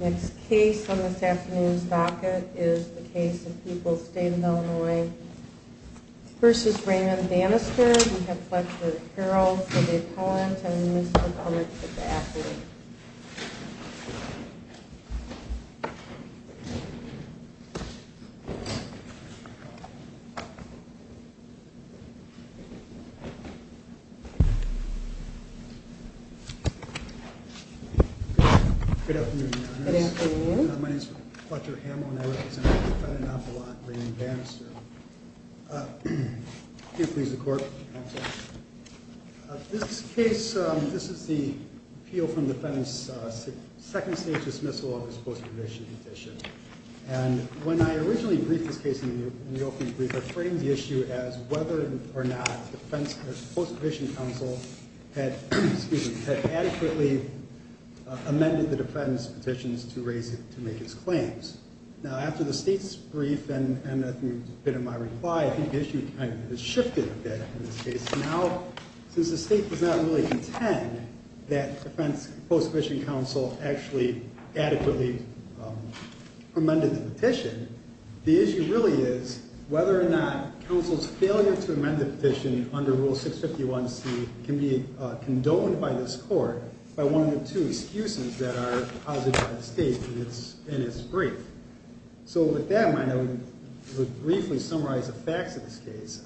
Next case on this afternoon's docket is the case of People's State of Illinois v. Raymond Bannister. We have Fletcher Carroll for the opponent and Mr. Gomez for the athlete. Good afternoon, your honors. My name is Fletcher Hamill and I represent the defendant, Nopalot Raymond Bannister. Can you please the court? This case, this is the appeal from defense second stage dismissal of his post-provision petition. And when I originally briefed this case in the opening brief, I framed the issue as whether or not defense or post-provision counsel had adequately amended the defense petitions to raise it to make its claims. Now, after the state's brief and a bit of my reply, I think the issue has shifted a bit in this case. Now, since the state does not really contend that defense post-provision counsel actually adequately amended the petition, the issue really is whether or not counsel's failure to amend the petition under rule 651c can be condoned by this court by one of the two excuses that are posited by the state in its brief. So with that in mind, I would briefly summarize the facts of this case.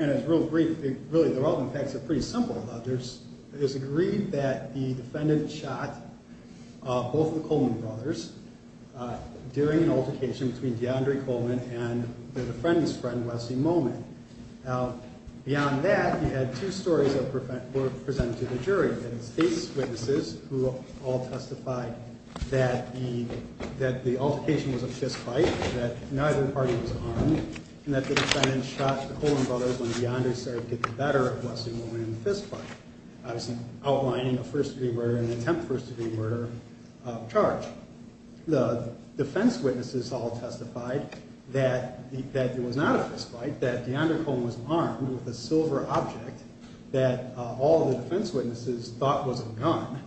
And it's real brief. Really, the relevant facts are pretty simple. There's agreed that the defendant shot both of the Coleman brothers during an altercation between DeAndre Coleman and DeAndre Coleman. Beyond that, you had two stories that were presented to the jury. That is, case witnesses who all testified that the altercation was a fist fight, that neither party was armed, and that the defendant shot the Coleman brothers when DeAndre started to get the better of Wesley Coleman in the fist fight. Obviously, outlining a first-degree murder and an attempt first-degree murder of charge. The defense witnesses all testified that it was not a silver object that all the defense witnesses thought was a gun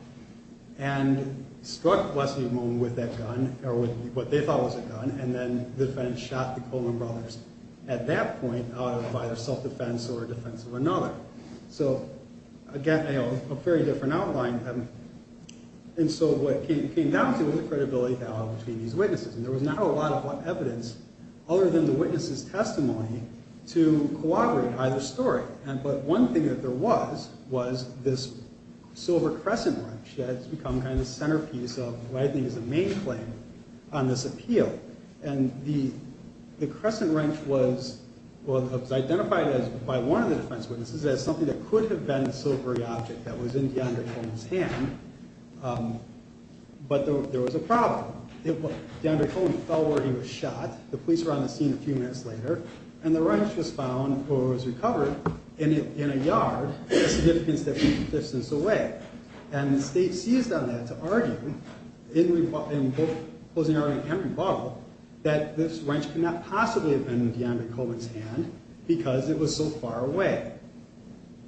and struck Wesley Coleman with that gun, or with what they thought was a gun, and then the defendant shot the Coleman brothers at that point out of either self-defense or defense of another. So again, a very different outline. And so what came down to was the credibility held between these witnesses. And there was not a lot of evidence other than the witness's testimony to corroborate either story. But one thing that there was, was this silver crescent wrench that's become kind of the centerpiece of what I think is the main claim on this appeal. And the crescent wrench was identified by one of the defense witnesses as something that could have been a silvery object that was in DeAndre Coleman's hand, but there was a problem. DeAndre Coleman fell where he was shot, the police were on the scene a few minutes later, and the wrench was found or was recovered in a yard, a significance that was a distance away. And the state seized on that to argue, in both closing argument and rebuttal, that this wrench could not possibly have been in DeAndre Coleman's hand because it was so far away.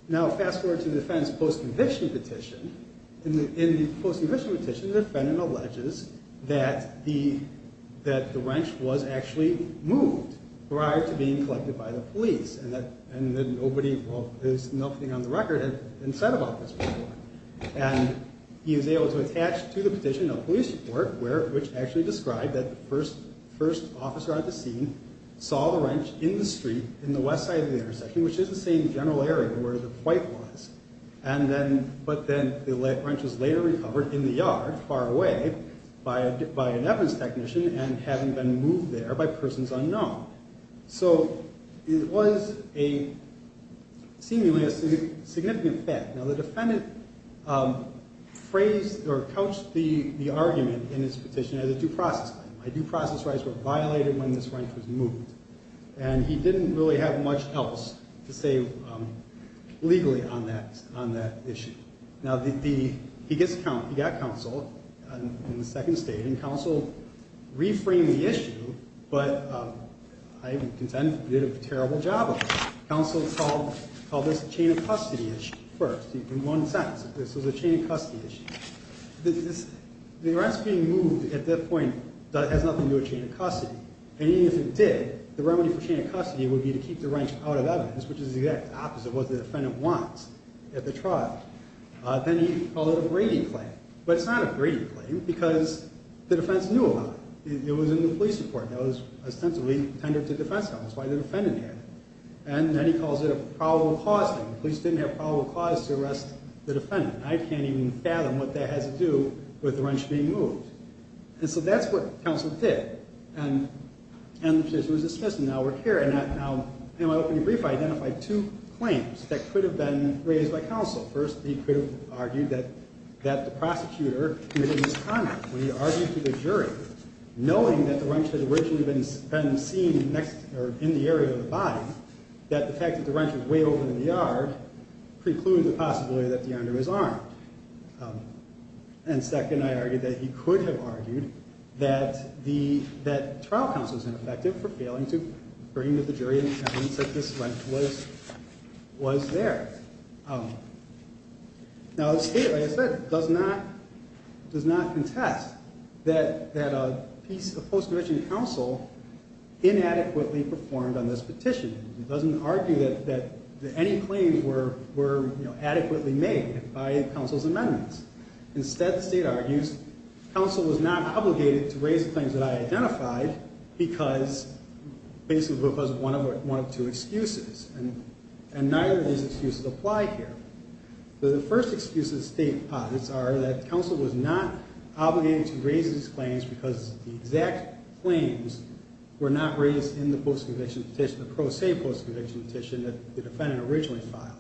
Now fast forward to the defense post-conviction petition. In the post-conviction petition, the defendant alleges that the wrench was actually moved prior to being collected by the police and that nobody, well there's nothing on the record had been said about this before. And he was able to attach to the petition a police report which actually described that the first officer at the scene saw the wrench in the street in the but then the wrench was later recovered in the yard far away by an evidence technician and having been moved there by persons unknown. So it was a seemingly a significant fact. Now the defendant phrased or couched the argument in his petition as a due process crime. My due process rights were violated when this wrench was moved. And he didn't really have much else to say legally on that issue. Now he got counsel in the second state and counsel reframed the issue, but I would contend did a terrible job of it. Counsel called this a chain of custody issue first. In one sentence, this was a chain of custody issue. The wrench being moved at that point has nothing to do with chain of custody. And even if it did, the remedy for chain of custody would be to keep the wrench out of evidence, which is the exact opposite of what the defendant wants at the trial. Then he called it a greedy claim, but it's not a greedy claim because the defense knew about it. It was in the police report that was ostensibly tendered to defense counsel. That's why the defendant had it. And then he calls it a probable cause thing. The police didn't have probable cause to arrest the defendant. I can't even fathom what that has to do with the wrench being moved. And so that's what counsel did. And the petition was dismissed and now we're here and in my opening brief, I identified two claims that could have been raised by counsel. First, he could have argued that the prosecutor committed misconduct when he argued to the jury, knowing that the wrench had originally been seen in the area of the body, that the fact that the wrench was way over in the yard precluded the possibility that the under his arm. And second, I argued that he could have argued that trial counsel is ineffective for failing to jury in evidence that this wrench was there. Now the state, like I said, does not contest that a post-conviction counsel inadequately performed on this petition. It doesn't argue that any claims were adequately made by counsel's amendments. Instead, the state argues, counsel was not obligated to raise the claims that I identified because basically it was one of two excuses. And neither of these excuses apply here. The first excuses the state posits are that counsel was not obligated to raise these claims because the exact claims were not raised in the post-conviction petition, the pro se post-conviction petition that the defendant originally filed.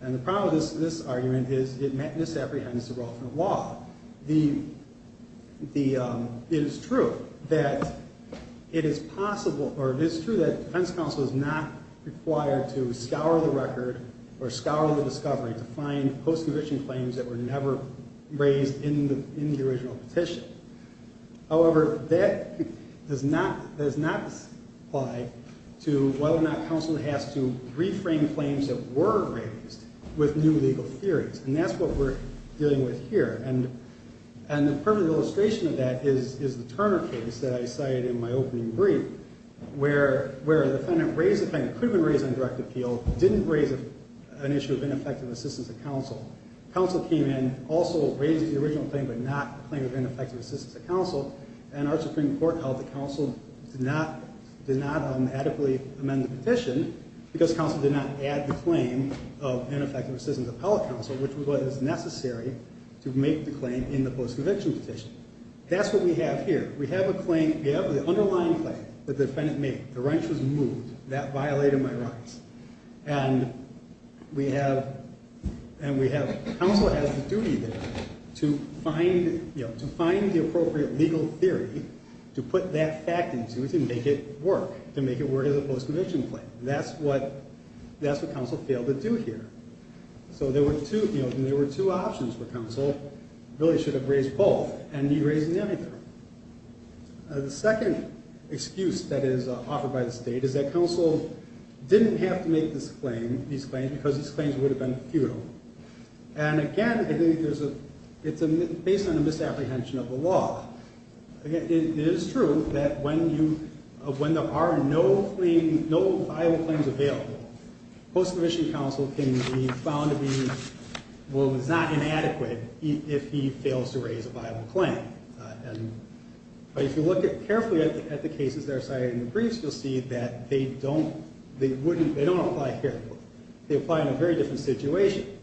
And the problem with this argument is it misapprehends the role of the law. It is true that it is possible, or it is true that defense counsel is not required to scour the record or scour the discovery to find post-conviction claims that were never raised in the original petition. However, that does not apply to whether or not counsel has to reframe claims that were raised with new legal theories. And that's what we're dealing with here. And the perfect illustration of that is the Turner case that I cited in my opening brief, where a defendant raised a claim that could have been raised on direct appeal, didn't raise an issue of ineffective assistance of counsel. Counsel came in, also raised the original claim but not the claim of ineffective assistance of counsel. And our Supreme Court held that counsel did not adequately amend the petition because counsel did not add the claim of ineffective assistance of appellate counsel, which was what is necessary to make the claim in the post-conviction petition. That's what we have here. We have a claim, we have the underlying claim that the defendant made. The wrench was moved. That violated my rights. And we have, and we have, counsel has the duty there to find, you know, to find the appropriate legal theory to put that fact into to make it work, to make it work as a post-conviction claim. That's what, that's what counsel failed to do here. So there were two, you know, there were two options for counsel, really should have raised both, and he raised neither. The second excuse that is offered by the state is that counsel didn't have to make this claim, these claims, because these claims would have been futile. And again, I think there's a, it's a, based on a misapprehension of the law. Again, it is true that when you, when there are no claim, no viable claims available, post-conviction counsel can be found to be, well, it's not inadequate if he fails to raise a viable claim. And, but if you look at carefully at the cases that are cited in the briefs, you'll see that they don't, they wouldn't, they don't apply here. They apply in a very different situation,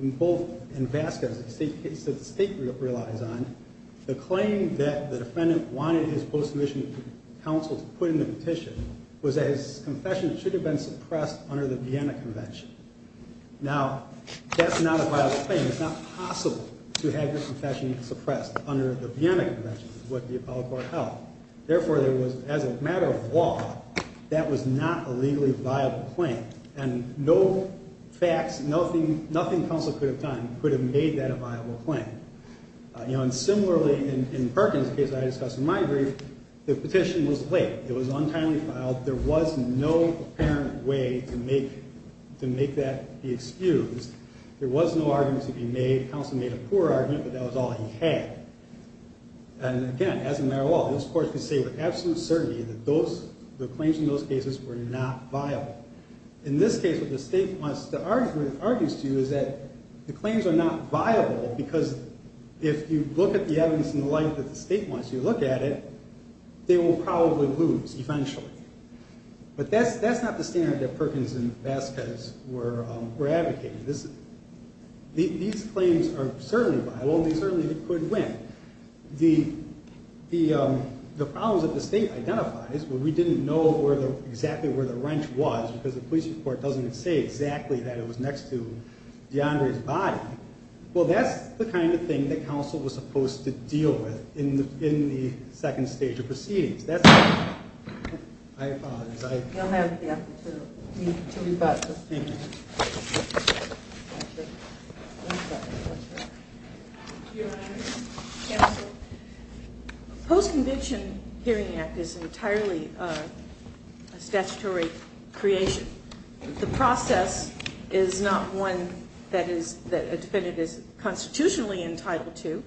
in both, in Vasquez, a state case that the state relies on, the claim that the defendant wanted his post-conviction counsel to put in the petition was that his confession should have been suppressed under the Vienna Convention. Now, that's not a viable claim. It's not possible to have your confession suppressed under the Vienna Convention, is what the appellate court held. Therefore, there was, as a matter of law, that was not a legally viable claim. And no facts, nothing, nothing counsel could have done could have made that a viable claim. You know, and similarly in Perkins, the case that I discussed in my brief, the petition was late. It was untimely filed. There was no apparent way to make, to make that be excused. There was no argument to be made. Counsel made a poor argument, but that was all he had. And again, as a matter of law, those courts could say with absolute certainty that those, the claims in those cases were not viable. In this case, what the state wants to argue, argues to you is that the claims are not viable because if you look at the evidence and the like that the state wants you to look at it, they will probably lose, eventually. But that's, that's not the standard that Perkins and Vasquez were, were advocating. This, these claims are certainly viable. They certainly could win. The, the, the problems that the state identifies, but we didn't know where the, exactly where the wrench was because the police report doesn't say exactly that it was next to DeAndre's body. Well, that's the kind of thing that counsel was supposed to deal with in the, in the second stage of counsel. The Post-Conviction Hearing Act is entirely a statutory creation. The process is not one that is, that a defendant is constitutionally entitled to.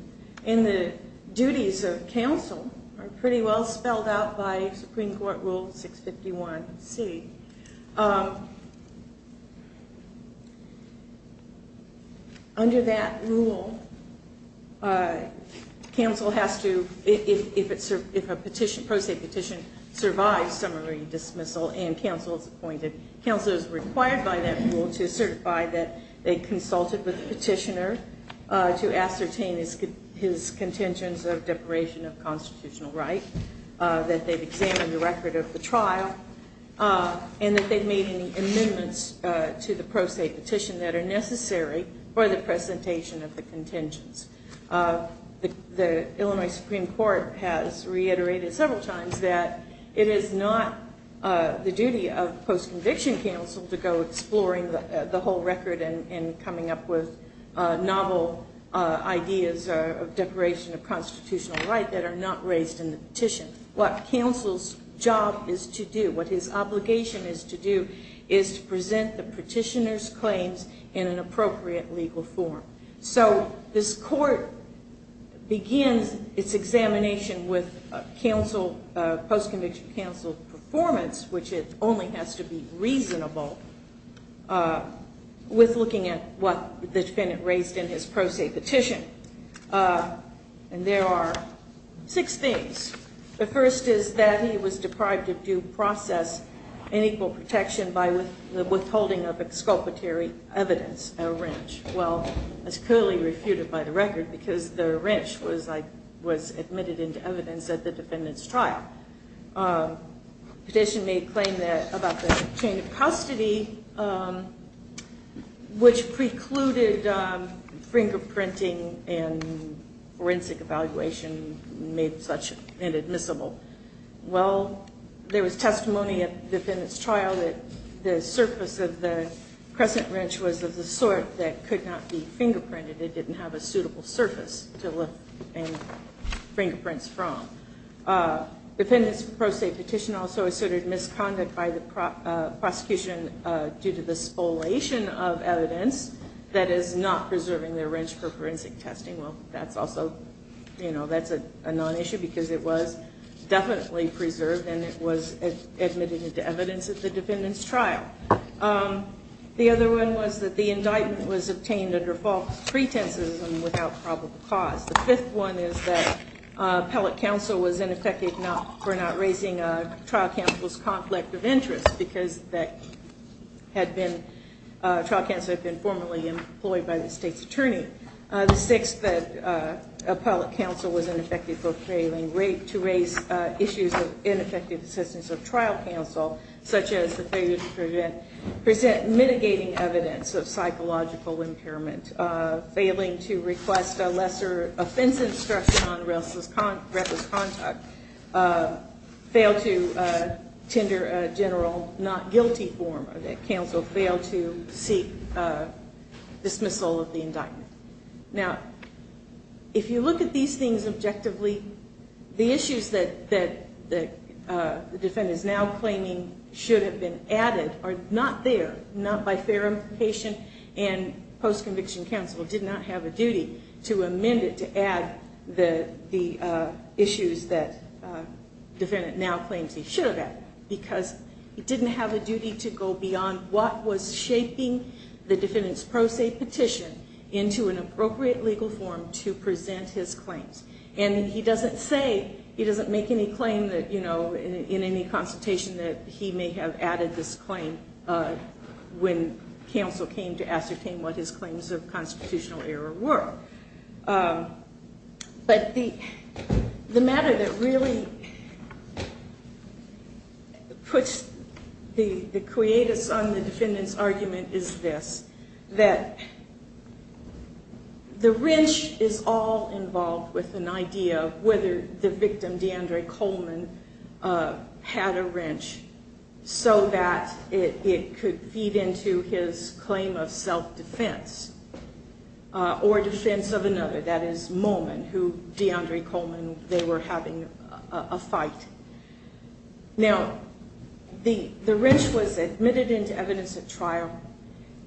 And the duties of counsel are pretty well spelled out by Supreme Court Rule 651C. Under that rule, counsel has to, if it's, if a petition, pro se petition survives summary dismissal and counsel is appointed, counsel is required by that rule to certify that they consulted with the petitioner to ascertain his, his contentions of deporation of constitutional right, that they've and that they've made any amendments to the pro se petition that are necessary for the presentation of the contentions. The Illinois Supreme Court has reiterated several times that it is not the duty of post-conviction counsel to go exploring the whole record and coming up with novel ideas of deporation of constitutional right that are not raised in the petition. What counsel's job is to do, what his obligation is to do, is to present the petitioner's claims in an appropriate legal form. So this court begins its examination with counsel, post-conviction counsel performance, which it only has to be reasonable, with looking at what the defendant raised in his pro se petition. And there are six things. The first is that he was deprived of due process and equal protection by withholding of exculpatory evidence, a wrench. Well, it's clearly refuted by the record because the wrench was like, was admitted into evidence at the defendant's trial. Petition made claim that about the chain of custody, um, which precluded, um, fingerprinting and forensic evaluation made such inadmissible. Well, there was testimony at the defendant's trial that the surface of the crescent wrench was of the sort that could not be fingerprinted. It didn't have a suitable surface to lift and fingerprints from. Uh, defendant's pro se petition also asserted misconduct by the prosecution due to the spoliation of evidence that is not preserving their wrench for forensic testing. Well, that's also, you know, that's a non-issue because it was definitely preserved and it was admitted into evidence at the defendant's trial. Um, the other one was that the indictment was obtained under false pretenses and without probable cause. The fifth one is that appellate counsel was ineffective for not raising, uh, trial counsel's conflict of interest because that had been, uh, trial counsel had been formerly employed by the state's attorney. Uh, the sixth that, uh, appellate counsel was ineffective for failing to raise, uh, issues of ineffective assistance of trial counsel, such as the failure to present mitigating evidence of psychological impairment, uh, failing to request a lesser offense instruction on reckless, reckless contact, uh, failed to, uh, tender a general not guilty form or that counsel failed to seek, uh, dismissal of the indictment. Now, if you look at these things objectively, the issues that, that, that, uh, the defendant is now claiming should have been added are not there, not by fair implication, and post-conviction counsel did not have a duty to amend it to add the, the, uh, issues that, uh, defendant now claims he should have added because he didn't have a duty to go beyond what was shaping the defendant's pro se petition into an appropriate legal form to present his claims. And he doesn't say, he doesn't make any claim that, you know, in any consultation that he may have added this claim, uh, when counsel came to ascertain what his claims of constitutional error were. Um, but the, the matter that really puts the, the creatus on the defendant's argument is this, that the wrench is all involved with an idea of whether the victim, D'Andre Coleman, uh, had a wrench so that it, it could feed into his claim of self-defense, uh, or defense of another, that is, Momen, who D'Andre Coleman, they were having a fight. Now, the, the wrench was admitted into evidence at trial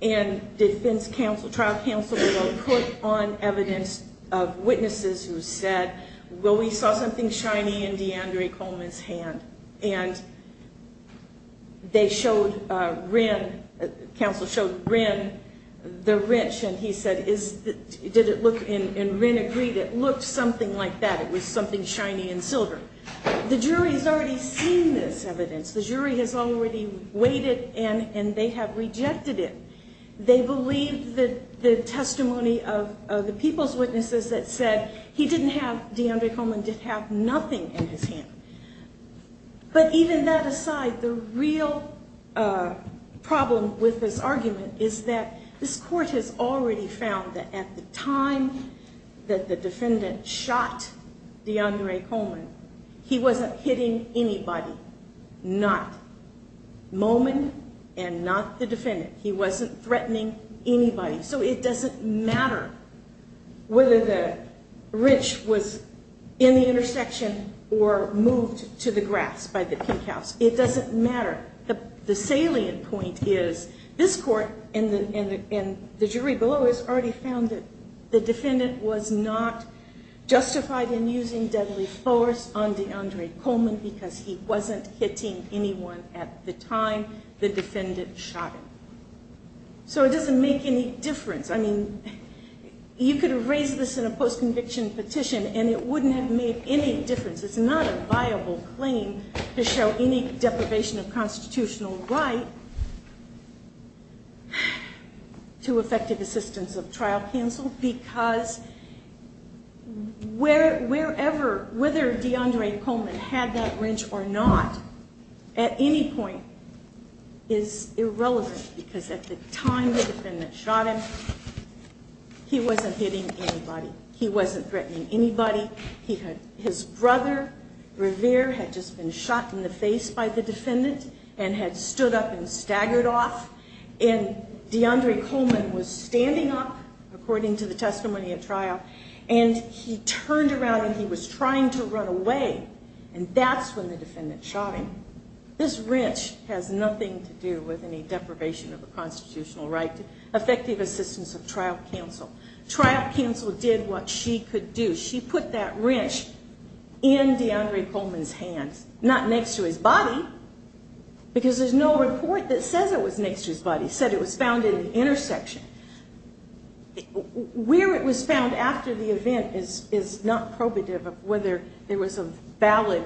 and defense counsel, trial counsel, put on evidence of witnesses who said, well, we saw something shiny in D'Andre Coleman's hand and they showed, uh, Wren, counsel showed Wren the wrench and he said, is that, did it look, and Wren agreed it looked something like that. It was something shiny and silver. The jury has already seen this evidence. The jury has already waited and, and they have rejected it. They believe that the testimony of, of the people's witnesses that said he didn't have, D'Andre Coleman did have nothing in his hand. But even that aside, the real, uh, problem with this argument is that this court has already found that at the time that the defendant shot D'Andre Coleman, he wasn't hitting anybody, not whether the wrench was in the intersection or moved to the grass by the pink house. It doesn't matter. The salient point is this court and the, and the jury below has already found that the defendant was not justified in using deadly force on D'Andre Coleman because he wasn't hitting anyone at the time the defendant shot him. So it doesn't make any difference. I mean, you could have raised this in a post-conviction petition and it wouldn't have made any difference. It's not a viable claim to show any deprivation of constitutional right to effective assistance of trial counsel because where, wherever, whether D'Andre Coleman had that wrench or not at any point is irrelevant because at the time the defendant shot him, he wasn't hitting anybody. He wasn't threatening anybody. He had, his brother Revere had just been shot in the face by the defendant and had stood up and staggered off. And D'Andre Coleman was standing up according to the testimony at trial and he turned around and he was trying to run away. And that's when the defendant shot him. This wrench has nothing to do with any deprivation of the constitutional right to effective assistance of trial counsel. Trial counsel did what she could do. She put that wrench in D'Andre Coleman's hands, not next to his body, because there's no report that says it was next to his body. It said it was found in the intersection. Where it was found after the event is, is not probative of whether there was a valid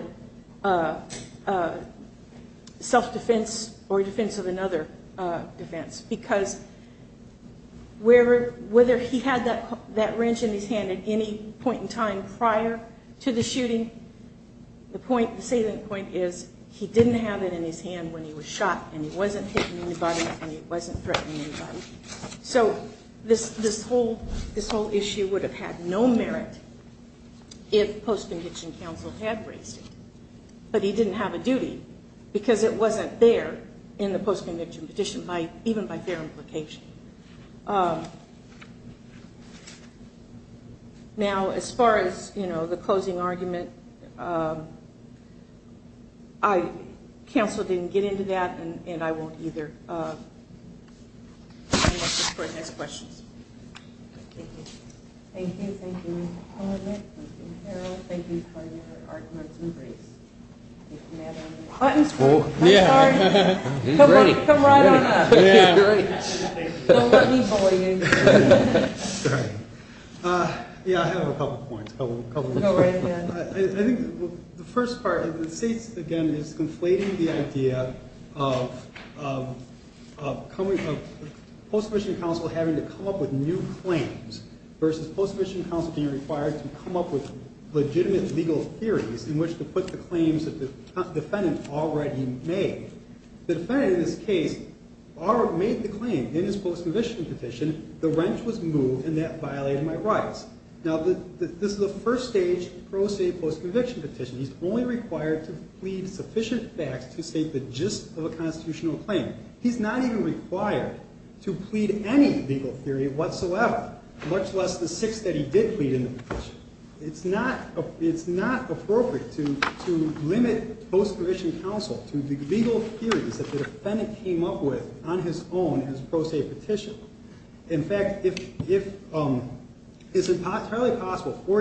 self-defense or defense of another defense, because wherever, whether he had that, that wrench in his hand at any point in time prior to the shooting, the point, the salient point is he didn't have it in his hand when he was shot and he wasn't hitting anybody and he wasn't threatening anybody. So this, this whole, this whole issue would have had no merit if post-conviction counsel had raised it, but he didn't have a duty because it wasn't there in the post-conviction petition by, even by their implication. Now, as far as, you know, the closing argument, I, counsel didn't get into that and, and I won't either. I think the first part of the case, again, is conflating the idea of, of coming, of post-conviction counsel having to come up with new claims versus post-conviction counsel being required to come up with legitimate legal theories in which to put the claims that the defendant already made. The defendant in this case already made the claim in his post-conviction petition, the wrench was moved and that violated my rights. Now, this is a first stage pro se post-conviction petition. He's only required to plead sufficient facts to state the gist of a constitutional claim. He's not even required to plead any legal theory whatsoever, much less the six that he did plead in the petition. It's not, it's not appropriate to, to limit post-conviction counsel to the legal theories that the defendant came up with on his own as pro se petition. In fact, if, if it's entirely possible for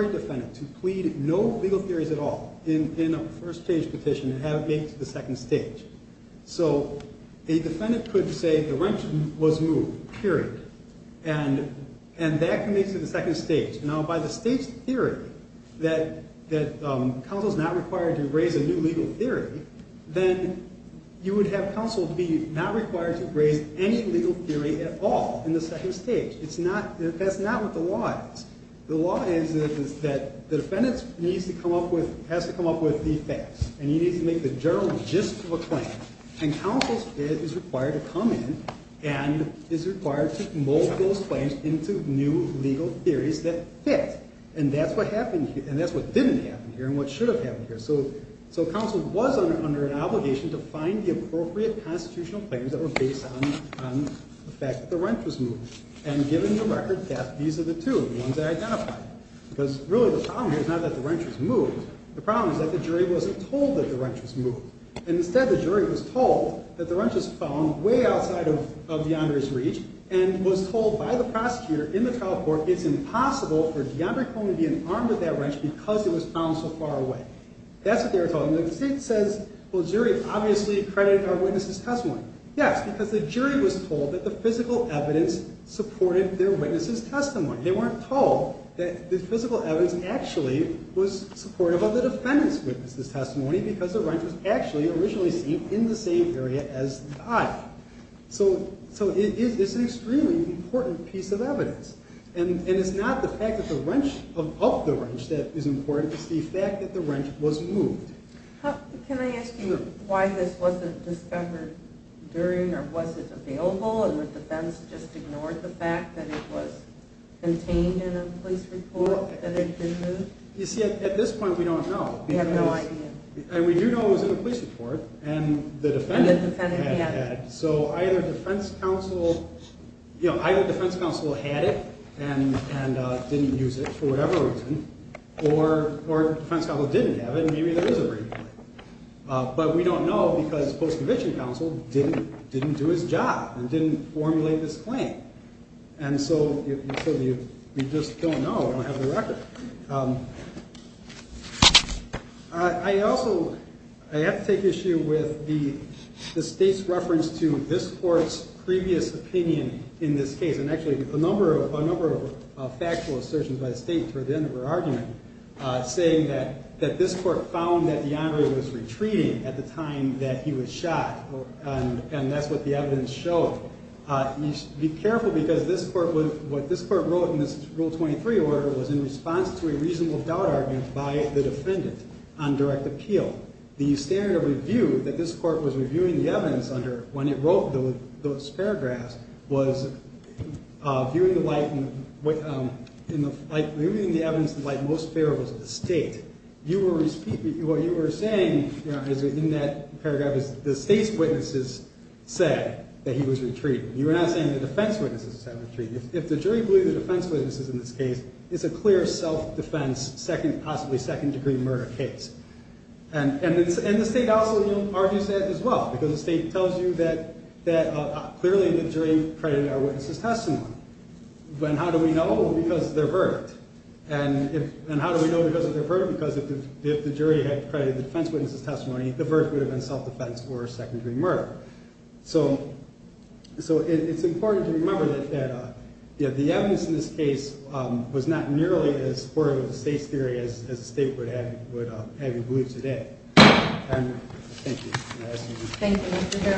a second stage, so the defendant could say the wrench was moved period. And, and that can lead to the second stage. Now by the state's theory that, that counsel is not required to raise a new legal theory, then you would have counsel be not required to raise any legal theory at all in the second stage. It's not, that's not what the law is. The law is that the defendant needs to come up with, has to come up with the facts and he needs to make the gist of a claim. And counsel's bid is required to come in and is required to mold those claims into new legal theories that fit. And that's what happened here. And that's what didn't happen here and what should have happened here. So, so counsel was under, under an obligation to find the appropriate constitutional claims that were based on, on the fact that the wrench was moved and given the record that these are the two, the ones I identified. Because really the problem here is not that the wrench was moved. The problem is that the jury wasn't told that the wrench was moved. And instead the jury was told that the wrench was found way outside of, of DeAndre's reach and was told by the prosecutor in the trial court, it's impossible for DeAndre Coleman being armed with that wrench because it was found so far away. That's what they were told. And the state says, well the jury obviously accredited our witness's testimony. Yes, because the jury was told that the physical evidence supported their witness's testimony. They weren't told that the physical evidence actually was supportive of the defendant's witness's testimony because the wrench was actually originally seen in the same area as the eye. So, so it is, it's an extremely important piece of evidence. And, and it's not the fact that the wrench of, of the wrench that is important. It's the fact that the wrench was moved. Can I ask you why this wasn't discovered during or was it available? And would the defense just ignored the fact that it was contained in a police report that it had been moved? You see at this point we don't know. We have no idea. And we do know it was in the police report and the defendant had it. So either defense counsel, you know, either defense counsel had it and, and didn't use it for whatever reason, or, or defense counsel didn't have it and maybe there is a reason. But we don't know because post-conviction counsel didn't, didn't do his job and didn't formulate this claim. And so we just don't know. We don't have the record. I also, I have to take issue with the state's reference to this court's previous opinion in this case. And actually a number of, a number of factual assertions by the state toward the end of her argument saying that, that this court found that DeAndre was retreating at the time that he was shot. And, and that's what the evidence showed. You should be careful because this court was, what this court wrote in this rule 23 order was in response to a reasonable doubt argument by the defendant on direct appeal. The standard of review that this court was reviewing the evidence under when it wrote those paragraphs was viewing the light and what, in the light, viewing the evidence, the light most fair was the state. You were, what you were saying in that paragraph is the state's witnesses said that he was retreating. You were not saying the defense witnesses said retreating. If the jury believe the defense witnesses in this case, it's a clear self-defense second, possibly second degree murder case. And, and, and the state also argues that as well, because the state tells you that, that clearly the jury credited our witnesses testimony. But how do we know? Because they're verdict. And if, and how do we know because if the jury had credited the defense witnesses testimony, the verdict would have been self-defense or secondary murder. So, so it's important to remember that, that the evidence in this case was not nearly as supportive of the state's theory as the state would have, would have you believe today. Thank you.